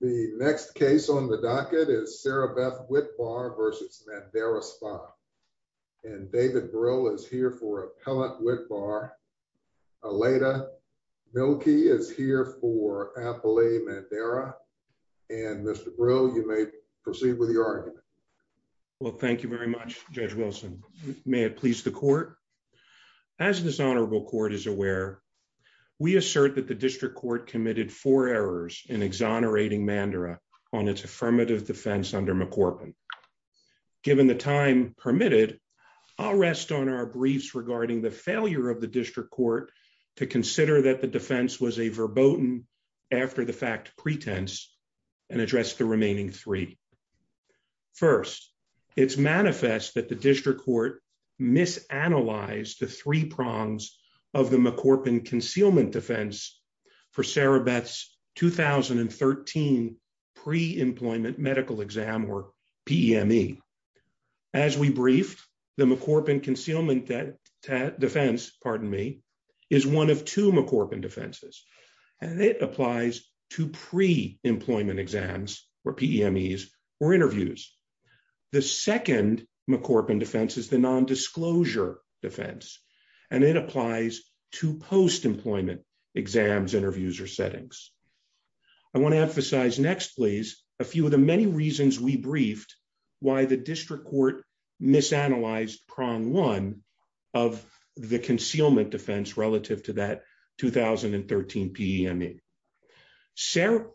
The next case on the docket is Sarabeth Witbar v. Mandara Spa. And David Brill is here for Appellant Witbar. Aleda Milkey is here for Appellant Mandara. And Mr. Brill, you may proceed with your argument. Well, thank you very much, Judge Wilson. May it please the court. As this honorable court is aware, we assert that the district court committed four errors in exonerating Mandara on its affirmative defense under McCorpin. Given the time permitted, I'll rest on our briefs regarding the failure of the district court to consider that the defense was a verboten after-the-fact pretense and address the remaining three. First, it's manifest that the district court misanalyzed the three prongs of the McCorpin concealment defense for Sarabeth's 2013 pre-employment medical exam, or PEME. As we briefed, the McCorpin concealment defense is one of two McCorpin defenses, and it applies to pre-employment exams, or PEMEs, or interviews. The second McCorpin defense is the nondisclosure defense, and it applies to post-employment exams, interviews, or settings. I want to emphasize next, please, a few of the many reasons we briefed why the district court misanalyzed prong one of the concealment defense relative to that 2013 PEME. Sarah,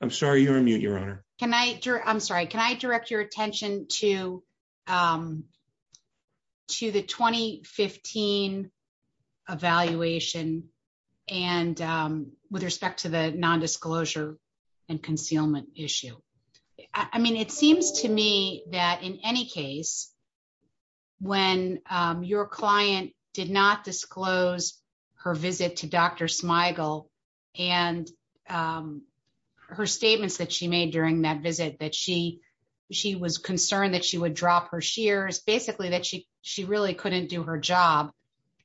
I'm sorry, you're on mute, your honor. I'm sorry. Can I direct your attention to the 2015 evaluation with respect to the nondisclosure and concealment issue? I mean, it seems to me that in any case, when your client did not disclose her visit to Dr. Smigel and her statements that she made during that visit, that she was concerned that she would drop her shears, basically that she really couldn't do her job,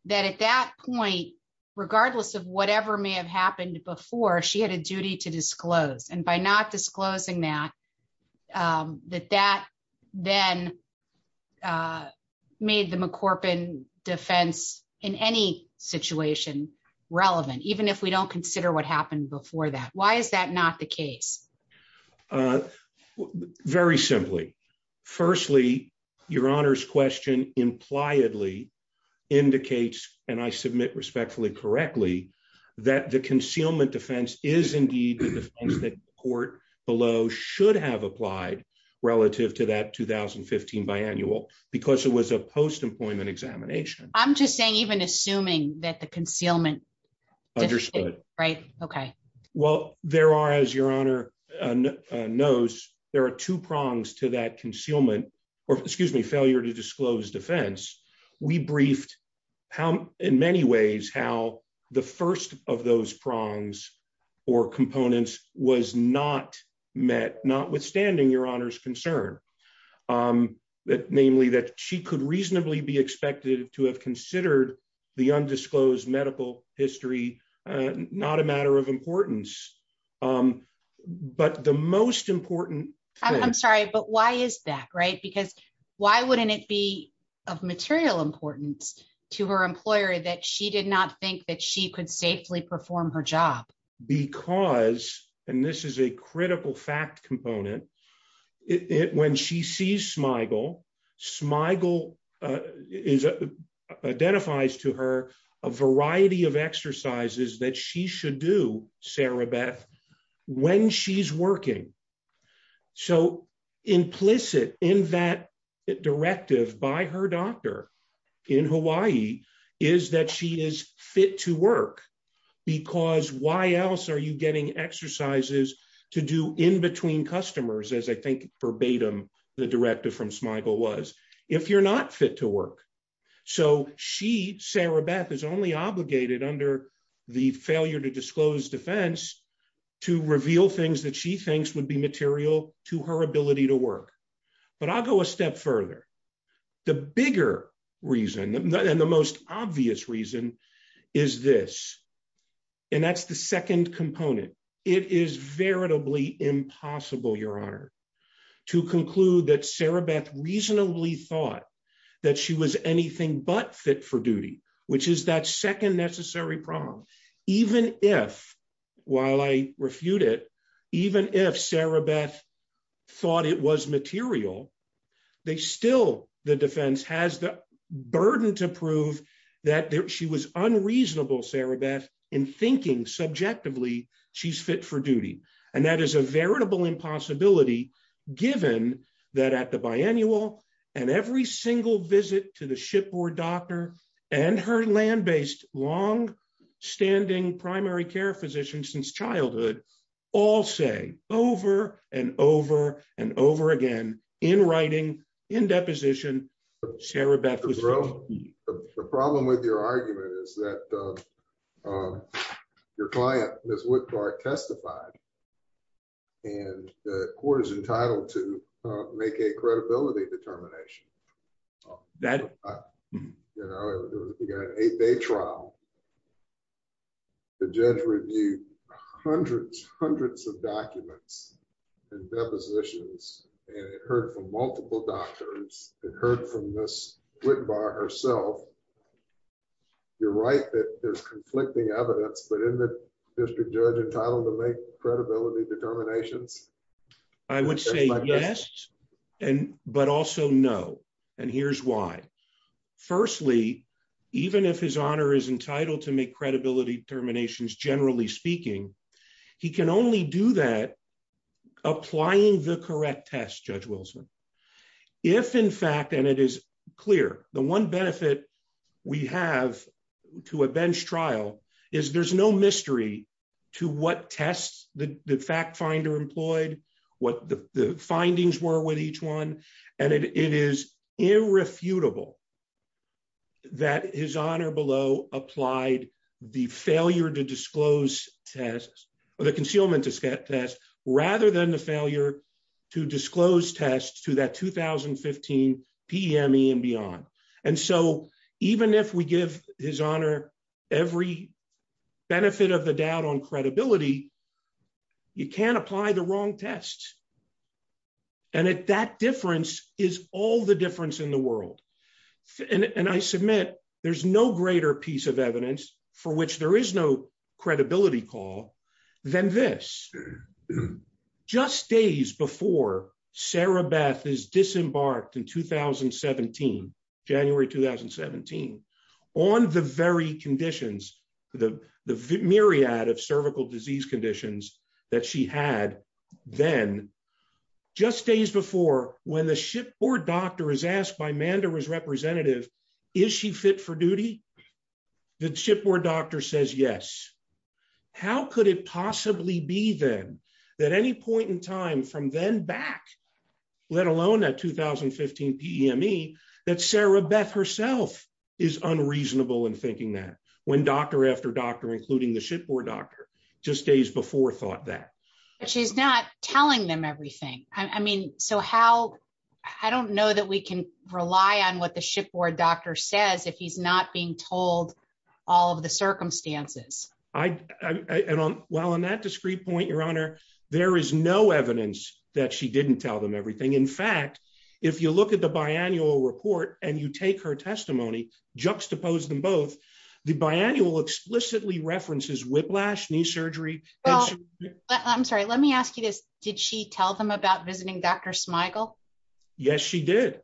that at that point, regardless of whatever may have happened before, she had a chance to disclose. And by not disclosing that, that then made the McCorpin defense in any situation relevant, even if we don't consider what happened before that. Why is that not the case? Very simply. Firstly, your honor's question impliedly indicates, and I submit respectfully, correctly, that the concealment defense is indeed the defense that court below should have applied relative to that 2015 biannual because it was a post-employment examination. I'm just saying, even assuming that the concealment... Understood. Right. Okay. Well, there are, as your honor knows, there are two prongs to that concealment, or excuse me, failure to disclose defense. We briefed in many ways how the first of those prongs or components was not met, notwithstanding your honor's concern, namely that she could reasonably be expected to have considered the undisclosed medical history not a matter of importance, but the most important... I'm sorry, but why is that, right? Because why wouldn't it be of material importance to her employer that she did not think that she could safely perform her job? Because, and this is a critical fact component, when she sees Smigel, Smigel identifies to her a variety of exercises that she should do, Sarah Beth, when she's working. So implicit in that directive by her doctor in Hawaii is that she is fit to work, because why else are you getting exercises to do in between customers, as I think verbatim the directive from Smigel was, if you're not fit to work? So she, Sarah Beth, is only obligated under the failure to disclose defense to reveal things that she thinks would be material to her ability to work. But I'll go a step further. The bigger reason and the most obvious reason is this, and that's the second component. It is veritably impossible, Your Honor, to conclude that Sarah Beth reasonably thought that she was anything but fit for duty, which is that second necessary problem. Even if, while I refute it, even if Sarah Beth thought it was material, they still, the defense has the burden to prove that she was unreasonable, Sarah Beth, in thinking subjectively she's fit for duty. And that is a veritable impossibility, given that at the biennial and every single visit to the shipboard doctor and her land-based long-standing primary care since childhood, all say over and over and over again, in writing, in deposition, Sarah Beth was wrong. The problem with your argument is that your client, Ms. Woodpark, testified and the court is entitled to make a credibility determination. That, you know, you got an eight-day trial, the judge reviewed hundreds, hundreds of documents and depositions, and it heard from multiple doctors, it heard from Ms. Woodpark herself. You're right that there's conflicting evidence, but isn't the district judge entitled to make and here's why. Firstly, even if his honor is entitled to make credibility determinations, generally speaking, he can only do that applying the correct test, Judge Wilson. If in fact, and it is clear, the one benefit we have to a bench trial is there's no mystery to what tests the fact finder employed, what the findings were with each one, and it is irrefutable that his honor below applied the failure to disclose tests or the concealment test rather than the failure to disclose tests to that 2015 PME and beyond. And so even if we give his honor every benefit of the doubt on credibility, you can't apply the wrong tests. And at that difference is all the difference in the world. And I submit there's no greater piece of evidence for which there is no credibility call than this. Just days before Sarah Beth is disembarked in 2017, January 2017, on the very conditions, the myriad of cervical disease conditions that she had then, just days before when the shipboard doctor is asked by Mandera's representative, is she fit for duty? The shipboard doctor says yes. How could it possibly be then that any point in time from then back, let alone that 2015 PME, that Sarah Beth herself is unreasonable in thinking that when doctor after doctor, including the shipboard doctor, just days before thought that. She's not telling them everything. I mean, so how, I don't know that we can rely on what the and while on that discrete point, your honor, there is no evidence that she didn't tell them everything. In fact, if you look at the biannual report and you take her testimony, juxtapose them both, the biannual explicitly references whiplash, knee surgery. I'm sorry, let me ask you this. Did she tell them about visiting Dr. Smigel? Yes, she did.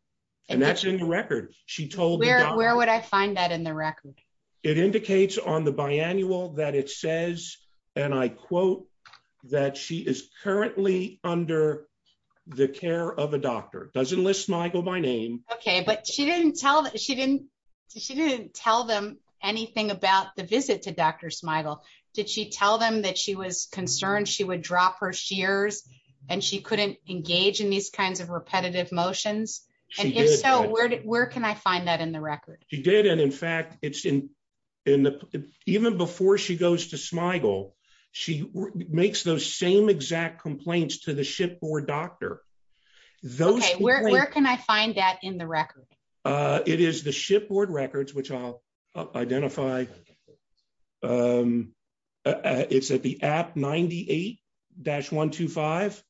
And that's in the record. She told me. Where would I find that in the record? It indicates on the biannual that it says, and I quote, that she is currently under the care of a doctor. It doesn't list Smigel by name. Okay, but she didn't tell them anything about the visit to Dr. Smigel. Did she tell them that she was concerned she would drop her shears and she couldn't engage in these kinds of repetitive motions? And if so, where can I find that in the record? She did. And in fact, even before she goes to Smigel, she makes those same exact complaints to the shipboard doctor. Okay, where can I find that in the record? It is the shipboard records, which I'll identify. It's at the app 98-125.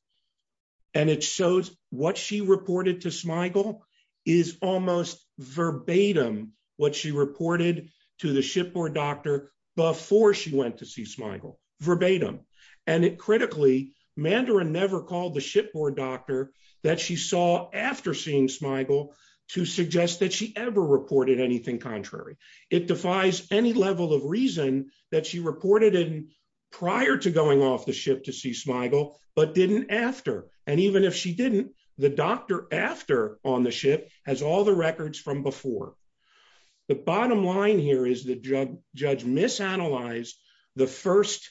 And it shows what she reported to Smigel is almost verbatim what she reported to the shipboard doctor before she went to see Smigel. Verbatim. And critically, Mandarin never called the shipboard doctor that she saw after seeing Smigel to suggest that she ever reported anything contrary. It defies any level of reason that she reported in prior to going off the ship to see Smigel, but didn't after. And even if she didn't, the doctor after on the ship has all the records from before. The bottom line here is the judge misanalyzed the first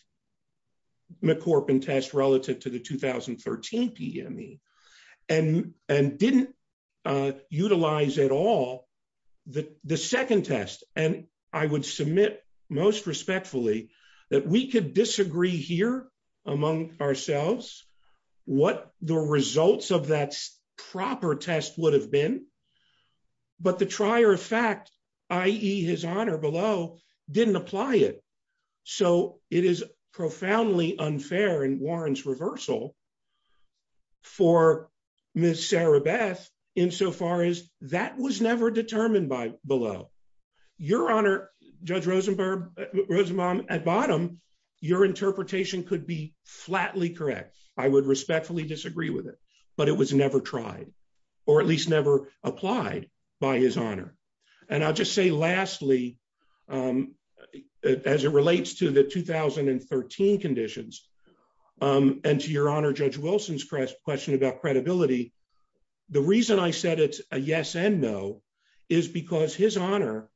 McCorpin test relative to the 2013 PME and didn't utilize at all the second test. And I would submit most respectfully that we could disagree here among ourselves what the results of that proper test would have been. But the trier of fact, i.e. his honor below, didn't apply it. So it is profoundly unfair in Warren's reversal for Ms. Sarah Beth insofar as that was never determined by below. Your honor, Judge Rosenbaum, at bottom, your interpretation could be flatly correct. I would respectfully disagree with it, but it was never tried or at least never applied by his honor. And I'll just say lastly, as it relates to the 2013 conditions and to your honor Judge Wilson's question about credibility, the reason I said it's a yes and no is because his honor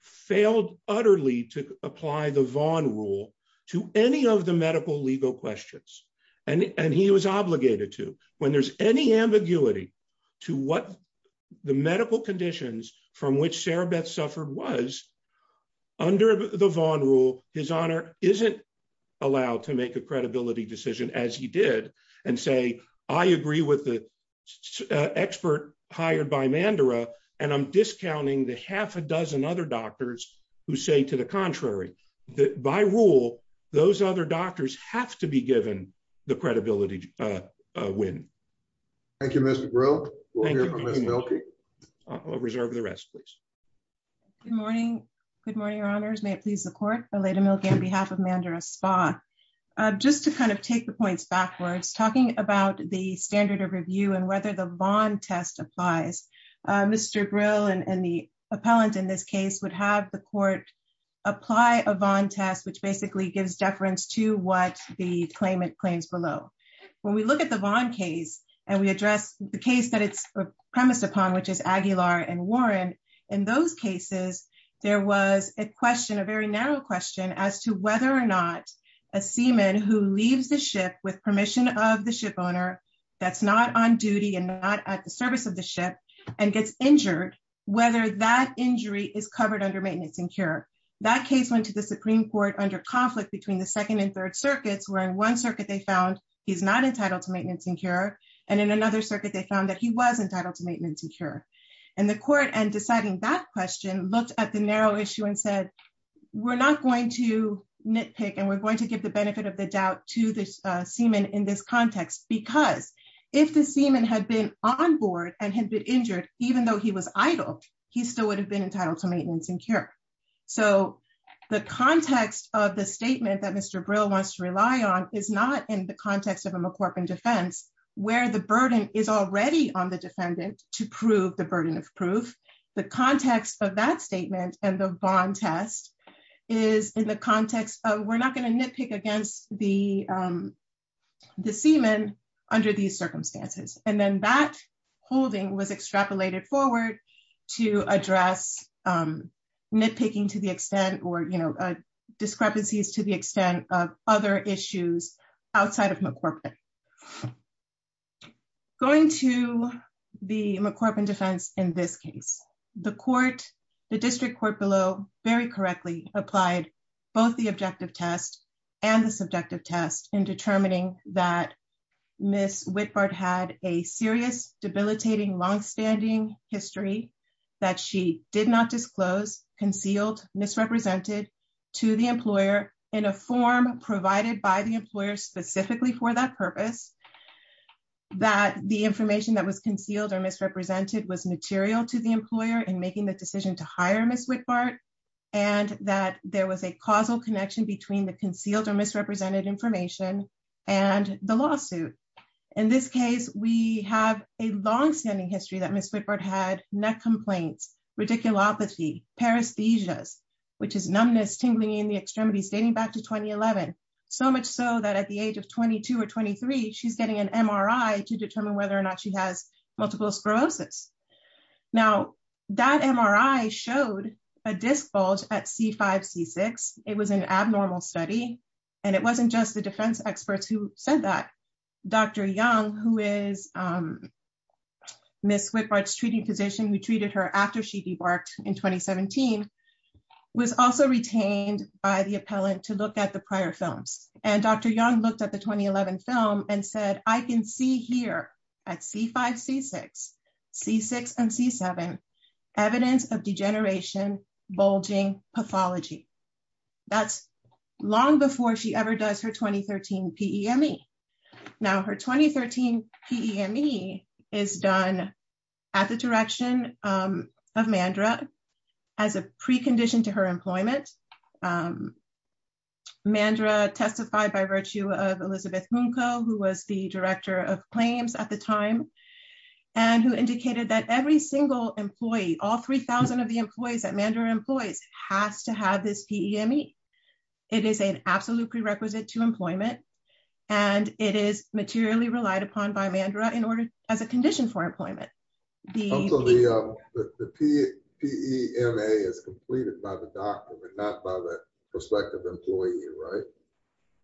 failed utterly to apply the Vaughn rule to any of the medical legal questions. And he was obligated to when there's any ambiguity to what the medical conditions from which Sarah Beth suffered was under the Vaughn rule, his honor isn't allowed to make a credibility decision as he did and say, I agree with the expert hired by Mandera. And I'm discounting the half a dozen other doctors who say to the contrary, that by rule, those other doctors have to be given the credibility win. Thank you, Mr. Brill. I'll reserve the rest, please. Good morning. Good morning, your honors. May it please the court, Aleda Milke on behalf of Mandera Spa. Just to kind of take the points backwards, talking about the standard of review and whether the Vaughn test applies, Mr. Brill and the appellant in this case would have the court apply a Vaughn test, which basically gives deference to what the claimant claims below. When we look at the Vaughn case and we address the case that it's premised upon, which is Aguilar and Warren, in those cases, there was a question, a very narrow question, as to whether or not a seaman who leaves the ship with permission of the ship owner that's not on duty and not at the service of the ship and gets injured, whether that injury is covered under maintenance and cure. That case went to the Supreme Court under conflict between the second and third circuits, where in one circuit they found he's not entitled to maintenance and cure. And in another circuit, they found that he was entitled to maintenance and cure. And the nitpick, and we're going to give the benefit of the doubt to the seaman in this context, because if the seaman had been on board and had been injured, even though he was idle, he still would have been entitled to maintenance and cure. So the context of the statement that Mr. Brill wants to rely on is not in the context of a McCorpin defense, where the burden is already on the defendant to prove the burden of proof. The context of that statement and the Vaughn test is in the context of we're not going to nitpick against the seaman under these circumstances. And then that holding was extrapolated forward to address nitpicking to the extent or discrepancies to the extent of other issues outside of McCorpin. Going to the McCorpin defense in this case, the court, the district court below very correctly applied both the objective test and the subjective test in determining that Miss Whitbard had a serious debilitating longstanding history that she did not disclose concealed misrepresented to the employer in a form provided by the employer specifically for that purpose. That the information that was concealed or misrepresented was material to the employer in making the decision to hire Miss Whitbard and that there was a causal connection between the concealed or misrepresented information and the lawsuit. In this case, we have a longstanding history that Miss Whitbard had neck complaints, radiculopathy, paresthesias, which is numbness, tingling in the extremities dating back to 2011. So much so that at the age of 22 or 23, she's getting an MRI to determine whether or not she has multiple sclerosis. Now, that MRI showed a disc bulge at C5, C6. It was an abnormal study. And it wasn't just the defense experts who said that. Dr. Young, who is Miss Whitbard's treating physician, who treated her after she debarked in 2017, was also retained by the appellant to look at the prior films. And Dr. Young looked at the 2011 film and said, I can see here at C5, C6, C6, and C7, evidence of degeneration, bulging, pathology. That's long before she ever does her 2013 PEME. Now her 2013 PEME is done at the direction of Mandra as a precondition to her employment. Mandra testified by virtue of Elizabeth Munko, who was the director of claims at the time, and who indicated that every single employee, all 3,000 of the employees that Mandra employs has to have this PEME. It is an absolute prerequisite to employment. And it is materially relied upon by Mandra as a condition for employment. The PEMA is completed by the doctor, not by the prospective employee, right?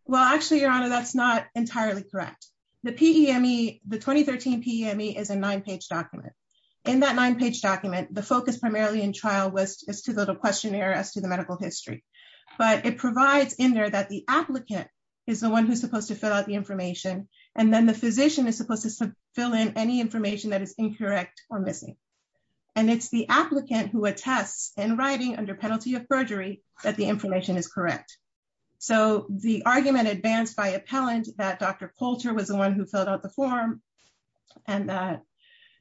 Well, actually, Your Honor, that's not entirely correct. The 2013 PEME is a nine-page document. In that nine-page document, the focus primarily in trial was to build a questionnaire as to the information. And then the physician is supposed to fill in any information that is incorrect or missing. And it's the applicant who attests in writing under penalty of perjury that the information is correct. So the argument advanced by appellant that Dr. Coulter was the one who filled out the form and that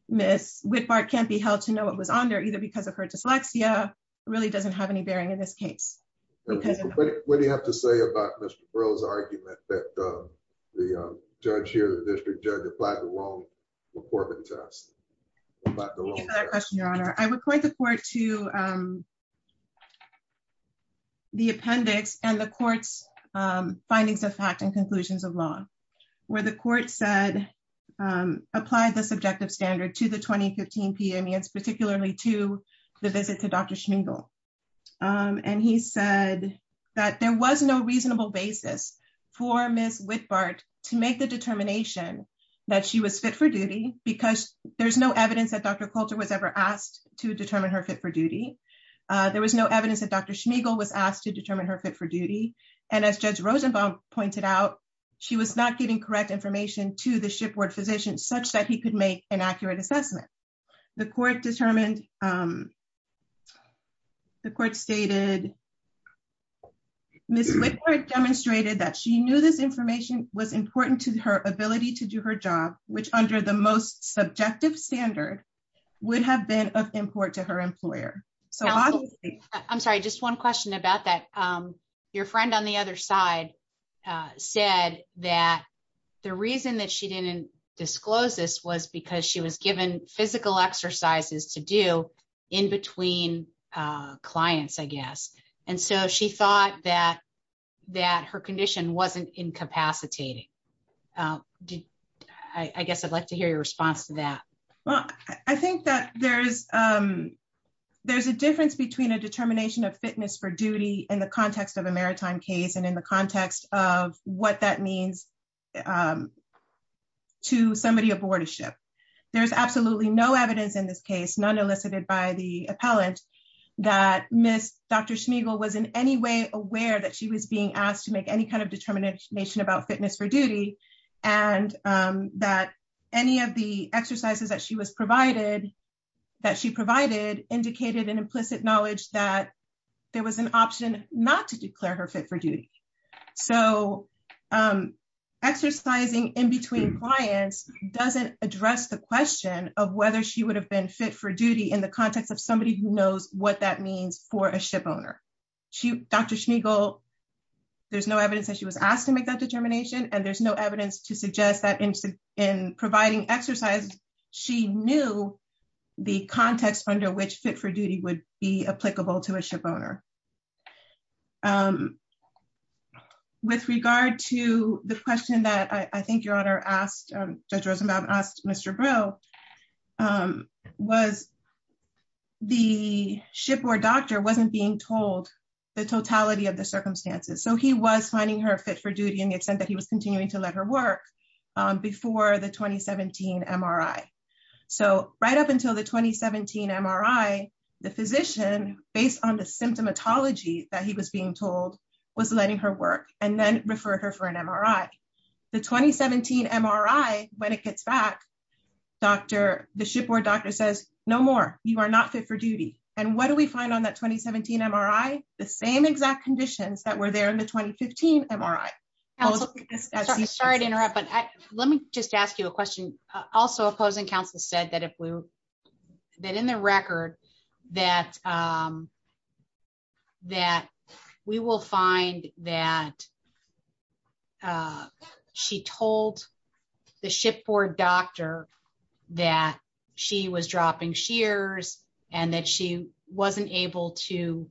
Ms. Whitbart can't be held to know what was on there, either because of her dyslexia, really doesn't have any bearing in this case. What do you have to say about Mr. Burrell's argument that the judge here, the district judge, applied the wrong McCormick test? I would point the court to the appendix and the court's findings of fact and conclusions of law, where the court said, applied the subjective standard to the 2015 PEME. It's particularly to the visit to Dr. Schmingel. And he said that there was no reasonable basis for Ms. Whitbart to make the determination that she was fit for duty, because there's no evidence that Dr. Coulter was ever asked to determine her fit for duty. There was no evidence that Dr. Schmingel was asked to determine her fit for duty. And as Judge Rosenbaum pointed out, she was not getting correct information to the shipboard physician such that he could make an accurate assessment. The court determined, the court stated, Ms. Whitbart demonstrated that she knew this information was important to her ability to do her job, which under the most subjective standard, would have been of import to her employer. I'm sorry, just one question about that. Your friend on the other side said that the reason that she didn't disclose this was because she was given physical exercises to do in between clients, I guess. And so she thought that her condition wasn't incapacitating. I guess I'd like to hear your response to that. Well, I think that there's a difference between a determination of fitness for duty in the context of a maritime case and in the context of what that means to somebody aboard a ship. There's absolutely no evidence in this case, none elicited by the appellant, that Ms. Dr. Schmingel was in any way aware that she was being asked to make any kind of determination about fitness for duty, and that any of the exercises that she was provided, that she provided, indicated an implicit knowledge that there was an option not to exercise. Exercising in between clients doesn't address the question of whether she would have been fit for duty in the context of somebody who knows what that means for a ship owner. Dr. Schmingel, there's no evidence that she was asked to make that determination, and there's no evidence to suggest that in providing exercise, she knew the context under which fit for duty would be applicable to a ship owner. With regard to the question that I think your Honor asked, Judge Rosenbaum asked Mr. Breaux, was the shipboard doctor wasn't being told the totality of the circumstances. So he was finding her fit for duty in the extent that he continued to let her work before the 2017 MRI. So right up until the 2017 MRI, the physician, based on the symptomatology that he was being told, was letting her work, and then referred her for an MRI. The 2017 MRI, when it gets back, the shipboard doctor says, no more, you are not fit for duty. And what do we find on that 2017 MRI? The same exact conditions that were there in the Sorry to interrupt, but let me just ask you a question. Also, opposing counsel said that if we that in the record that we will find that she told the shipboard doctor that she was dropping shears and that she wasn't able to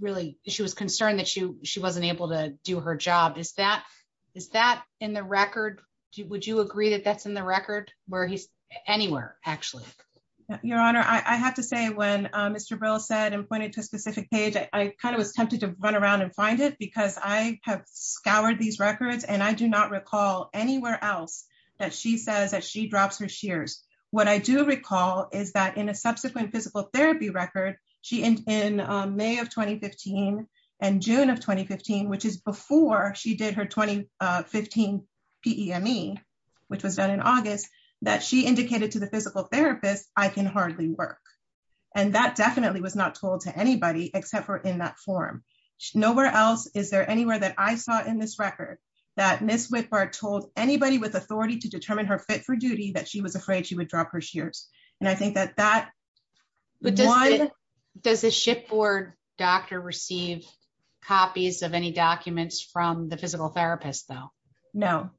really, she was concerned that she wasn't able to her job. Is that in the record? Would you agree that that's in the record? Anywhere, actually. Your Honor, I have to say when Mr. Breaux said and pointed to a specific page, I kind of was tempted to run around and find it because I have scoured these records and I do not recall anywhere else that she says that she drops her shears. What I do recall is that in a subsequent physical did her 2015 PEME, which was done in August, that she indicated to the physical therapist, I can hardly work. And that definitely was not told to anybody except for in that form. Nowhere else is there anywhere that I saw in this record that Ms. Whitbard told anybody with authority to determine her fit for duty that she was afraid she would drop her shears. And I think that that. But does the shipboard doctor receive copies of any documents from the physical therapist, though? No,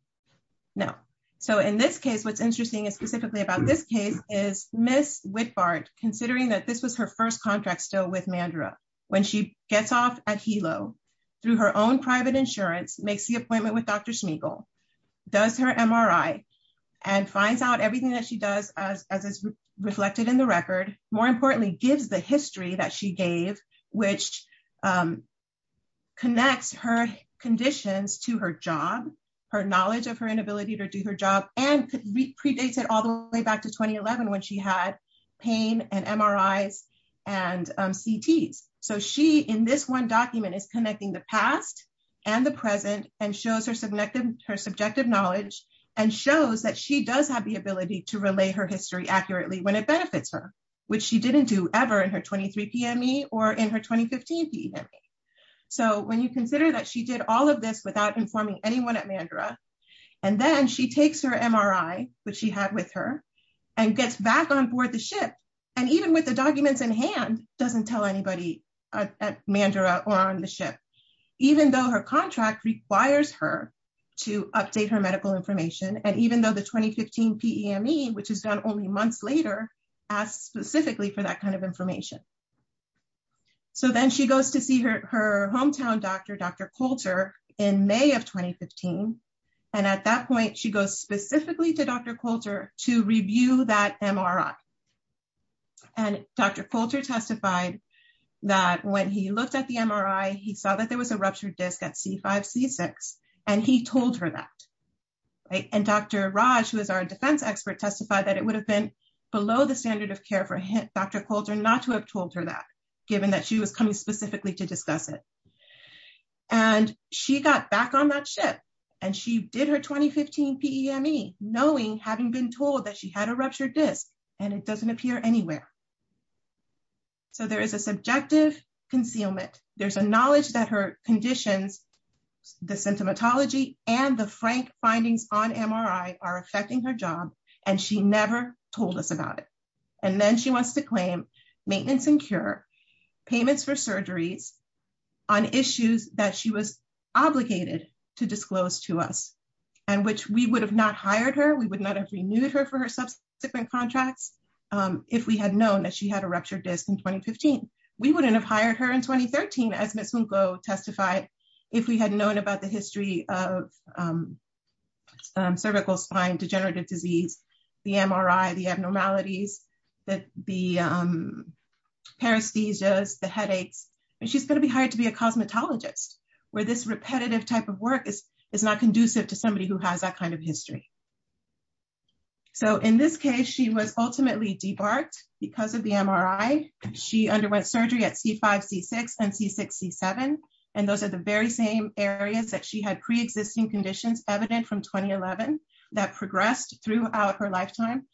no. So in this case, what's interesting is specifically about this case is Ms. Whitbard, considering that this was her first contract still with Mandra, when she gets off at Hilo through her own private insurance, makes the appointment with Dr. Smeagol, does her MRI and finds out everything that she does as is reflected in the record, more importantly, gives the history that she gave, which connects her conditions to her job, her knowledge of her inability to do her job and predates it all the way back to 2011 when she had pain and MRIs and CTs. So she in this one document is connecting the past and the present and shows her subjective knowledge and shows that she does have the ability to relay her history accurately when it benefits her, which she didn't do ever in her 23 PME or in her 2015 PME. So when you consider that she did all of this without informing anyone at Mandra, and then she takes her MRI, which she had with her, and gets back on board the ship, and even with the documents in hand, doesn't tell anybody at Mandra or on the ship, even though her contract requires her to update her medical information. And even though the 2015 PME, which is done only months later, asks specifically for that kind of information. So then she goes to see her hometown doctor, Dr. Coulter, in May of 2015. And at that point, she goes specifically to Dr. Coulter to review that MRI. And Dr. Coulter testified that when he looked at the MRI, he saw that there was a ruptured disc at C5, C6, and he told her that. And Dr. Raj, who is our defense expert, testified that it would have been below the standard of care for Dr. Coulter not to have told her that, given that she was coming specifically to discuss it. And she got back on that ship, and she did her 2015 PME, knowing, having been told that she had a ruptured disc, and it doesn't appear anywhere. So there is a subjective concealment. There's a knowledge that her conditions, the symptomatology, and the frank findings on MRI are affecting her job, and she never told us about it. And then she wants to claim maintenance and cure, payments for surgeries on issues that she was obligated to disclose to us, and which we would have not hired her. We would not have renewed her for her subsequent contracts if we had known that she had a ruptured disc in 2015. We wouldn't have hired her in 2013, as Ms. Mungo testified, if we had known about the history of cervical spine degenerative disease, the MRI, the abnormalities, the paresthesias, the headaches. And she's going to be hired to somebody who has that kind of history. So in this case, she was ultimately debarked because of the MRI. She underwent surgery at C5, C6, and C6, C7. And those are the very same areas that she had pre-existing conditions evident from 2011 that progressed throughout her lifetime,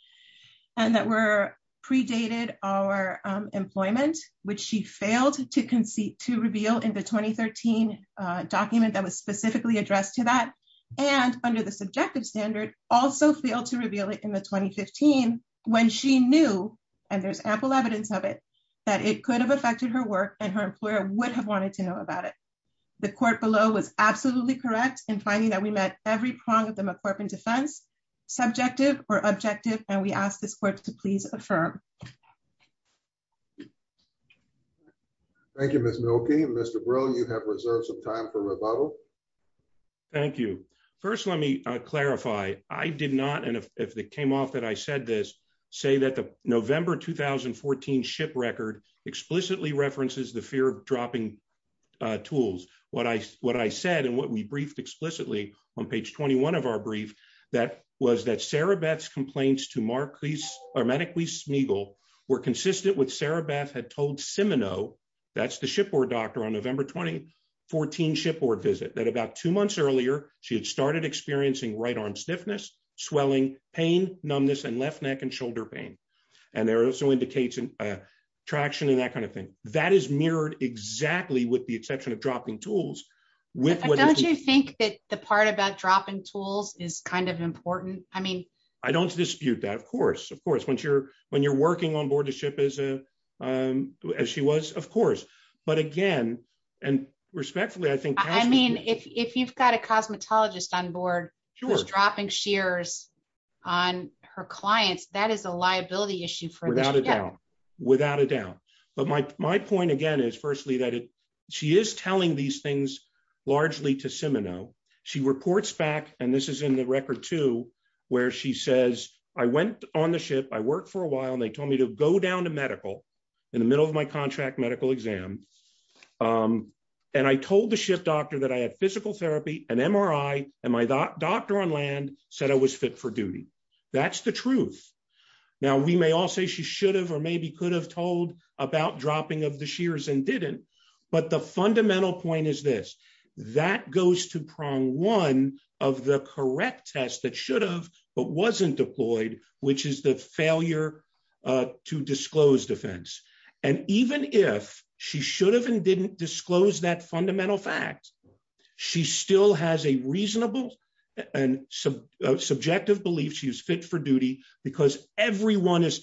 and that were predated our employment, which she failed to reveal in the 2013 document that was and under the subjective standard also failed to reveal it in the 2015 when she knew, and there's ample evidence of it, that it could have affected her work and her employer would have wanted to know about it. The court below was absolutely correct in finding that we met every prong of the McCorpin defense, subjective or objective, and we ask this court to please affirm. Thank you, Ms. Milkey. Mr. Brill, you have reserved some time for rebuttal. Thank you. First, let me clarify. I did not, and if it came off that I said this, say that the November 2014 ship record explicitly references the fear of dropping tools. What I said and what we briefed explicitly on page 21 of our brief, that was that Sarah Beth's complaints to Marquis, or Medicly Smigel, were consistent with Sarah Beth had told Simeno, that's the shipboard doctor, on November 2014 shipboard visit, that about two months earlier she had started experiencing right arm stiffness, swelling, pain, numbness, and left neck and shoulder pain, and there also indicates traction and that kind of thing. That is mirrored exactly with the exception of dropping tools. Don't you think that the part about dropping tools is kind of important? I mean, I don't dispute that, of course, of course. When you're working on board the ship as a, as she was, of course, but again, and respectfully, I think, I mean, if you've got a cosmetologist on board who was dropping shears on her clients, that is a liability issue for, without a doubt, without a doubt, but my point again is firstly that it, she is telling these things largely to Simeno. She reports back, and this is in the record too, where she says, I went on the ship, I worked for a while, and they told me to go down to medical in the middle of my contract medical exam, and I told the ship doctor that I had physical therapy, an MRI, and my doctor on land said I was fit for duty. That's the truth. Now, we may all say she should have or maybe could have told about dropping of the shears and didn't, but the fundamental point is this, that goes to prong one of the correct test that should have but wasn't deployed, which is the failure to disclose defense, and even if she should have and didn't disclose that fundamental fact, she still has a reasonable and subjective belief she is fit for duty because everyone is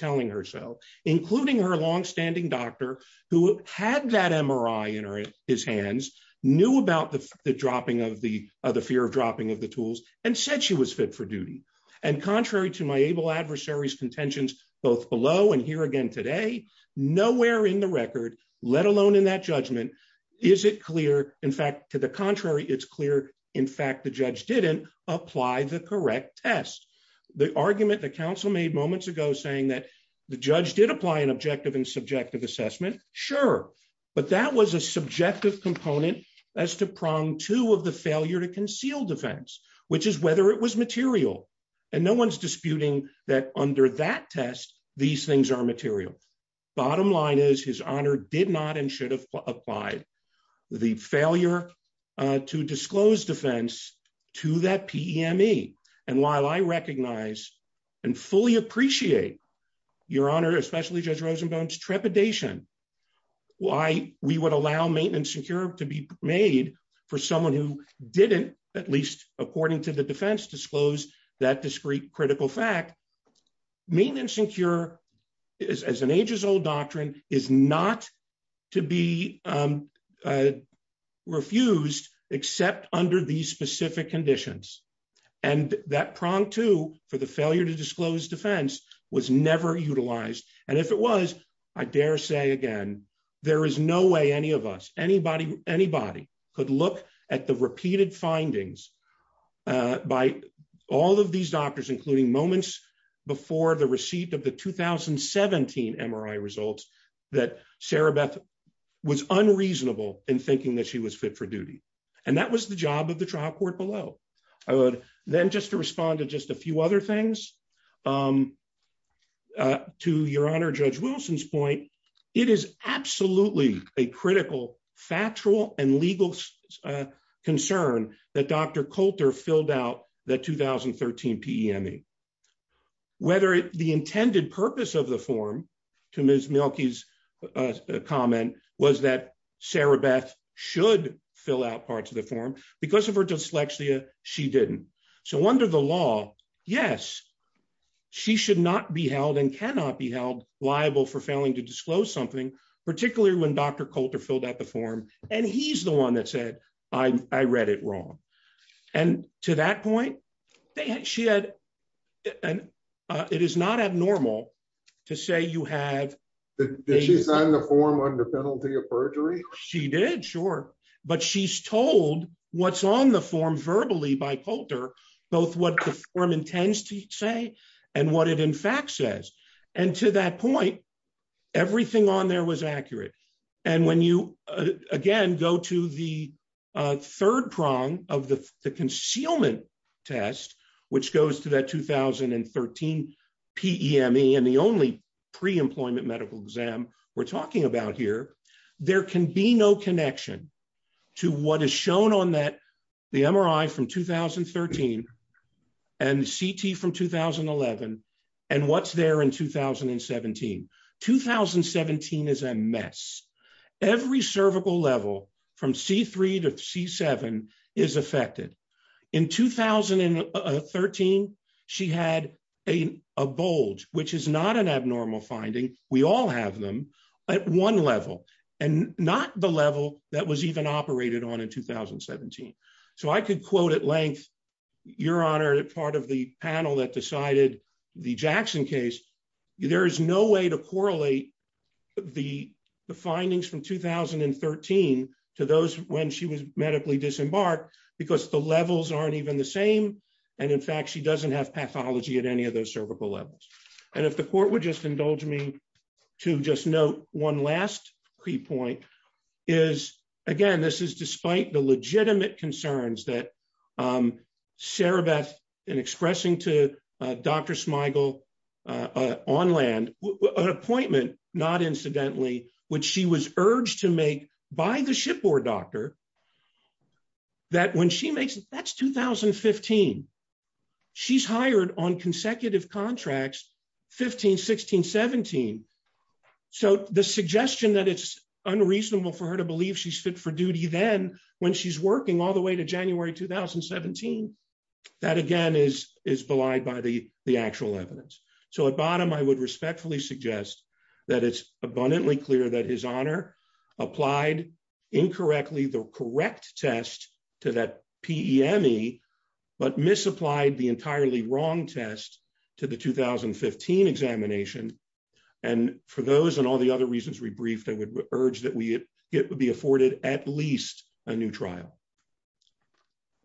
knew about the dropping of the, the fear of dropping of the tools and said she was fit for duty, and contrary to my able adversary's contentions, both below and here again today, nowhere in the record, let alone in that judgment, is it clear, in fact, to the contrary, it's clear, in fact, the judge didn't apply the correct test. The argument that counsel made moments ago saying that the judge did apply an objective and subjective assessment, sure, but that was a as to prong two of the failure to conceal defense, which is whether it was material, and no one's disputing that under that test, these things are material. Bottom line is his honor did not and should have applied the failure to disclose defense to that PME, and while I recognize and fully appreciate your honor, especially Judge Rosenbaum's trepidation, why we would allow maintenance and cure to be made for someone who didn't, at least according to the defense disclose that discrete critical fact, maintenance and cure is as an ages old doctrine is not to be refused, except under these specific conditions, and that prong to for the again, there is no way any of us, anybody, anybody could look at the repeated findings by all of these doctors, including moments before the receipt of the 2017 MRI results, that Sarah Beth was unreasonable in thinking that she was fit for duty, and that was the job of the trial court below. I would then just to respond to just a few other things. To your honor, Judge Wilson's point, it is absolutely a critical factual and legal concern that Dr. Coulter filled out that 2013 PME, whether the intended purpose of the form to Ms. Mielke's comment was that Sarah Beth should fill out parts of the form, because of her dyslexia, she didn't. So under the law, yes, she should not be held and cannot be held liable for failing to disclose something, particularly when Dr. Coulter filled out the form, and he's the one that said, I read it wrong. And to that point, she had, and it is not abnormal to say you have the form under penalty of perjury. She did, sure. But she's told what's on the form verbally by Coulter, both what the form intends to say, and what it in fact says. And to that point, everything on there was accurate. And when you, again, go to the third prong of the concealment test, which goes to that 2013 PME, and the only pre-employment medical exam we're talking about here, there can be no connection to what is shown on that, the MRI from 2013, and CT from 2011, and what's there in 2017. 2017 is a mess. Every cervical level from C3 to C7 is affected. In 2013, she had a bulge, which is not an abnormal finding. We all have them at one level, and not the level that was even operated on in 2017. So I could quote at length, Your Honor, part of the panel that decided the Jackson case, there is no way to correlate the findings from 2013 to those when she was medically disembarked, because the levels aren't even the same. And in fact, she doesn't have pathology at any of those cervical levels. And if the court would just indulge me to just note one last key point is, again, this is despite the legitimate concerns that Sarabeth in expressing to Dr. Smigel on land, an appointment, not incidentally, which she was urged to make by the shipboard doctor, that when she makes it, that's 2015. She's hired on consecutive contracts, 15, 16, 17. So the suggestion that it's unreasonable for her to believe she's fit for duty then, when she's working all the way to January 2017. That again, is belied by the actual evidence. So at bottom, I would respectfully suggest that it's abundantly clear that His Honor applied incorrectly the correct test to that PEME, but misapplied the entirely wrong test to the 2015 examination. And for those and all the other reasons we briefed, I would urge that we it would be afforded at least a new trial.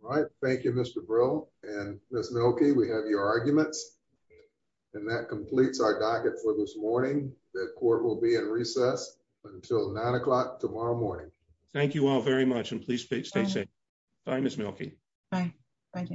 All right. Thank you, Mr. Brill. And Ms. Mielke, we have your arguments. And that completes our docket for this morning. The court will be in recess until nine o'clock tomorrow morning. Thank you all very much and please stay safe. Bye, Ms. Mielke. Bye. Bye, David.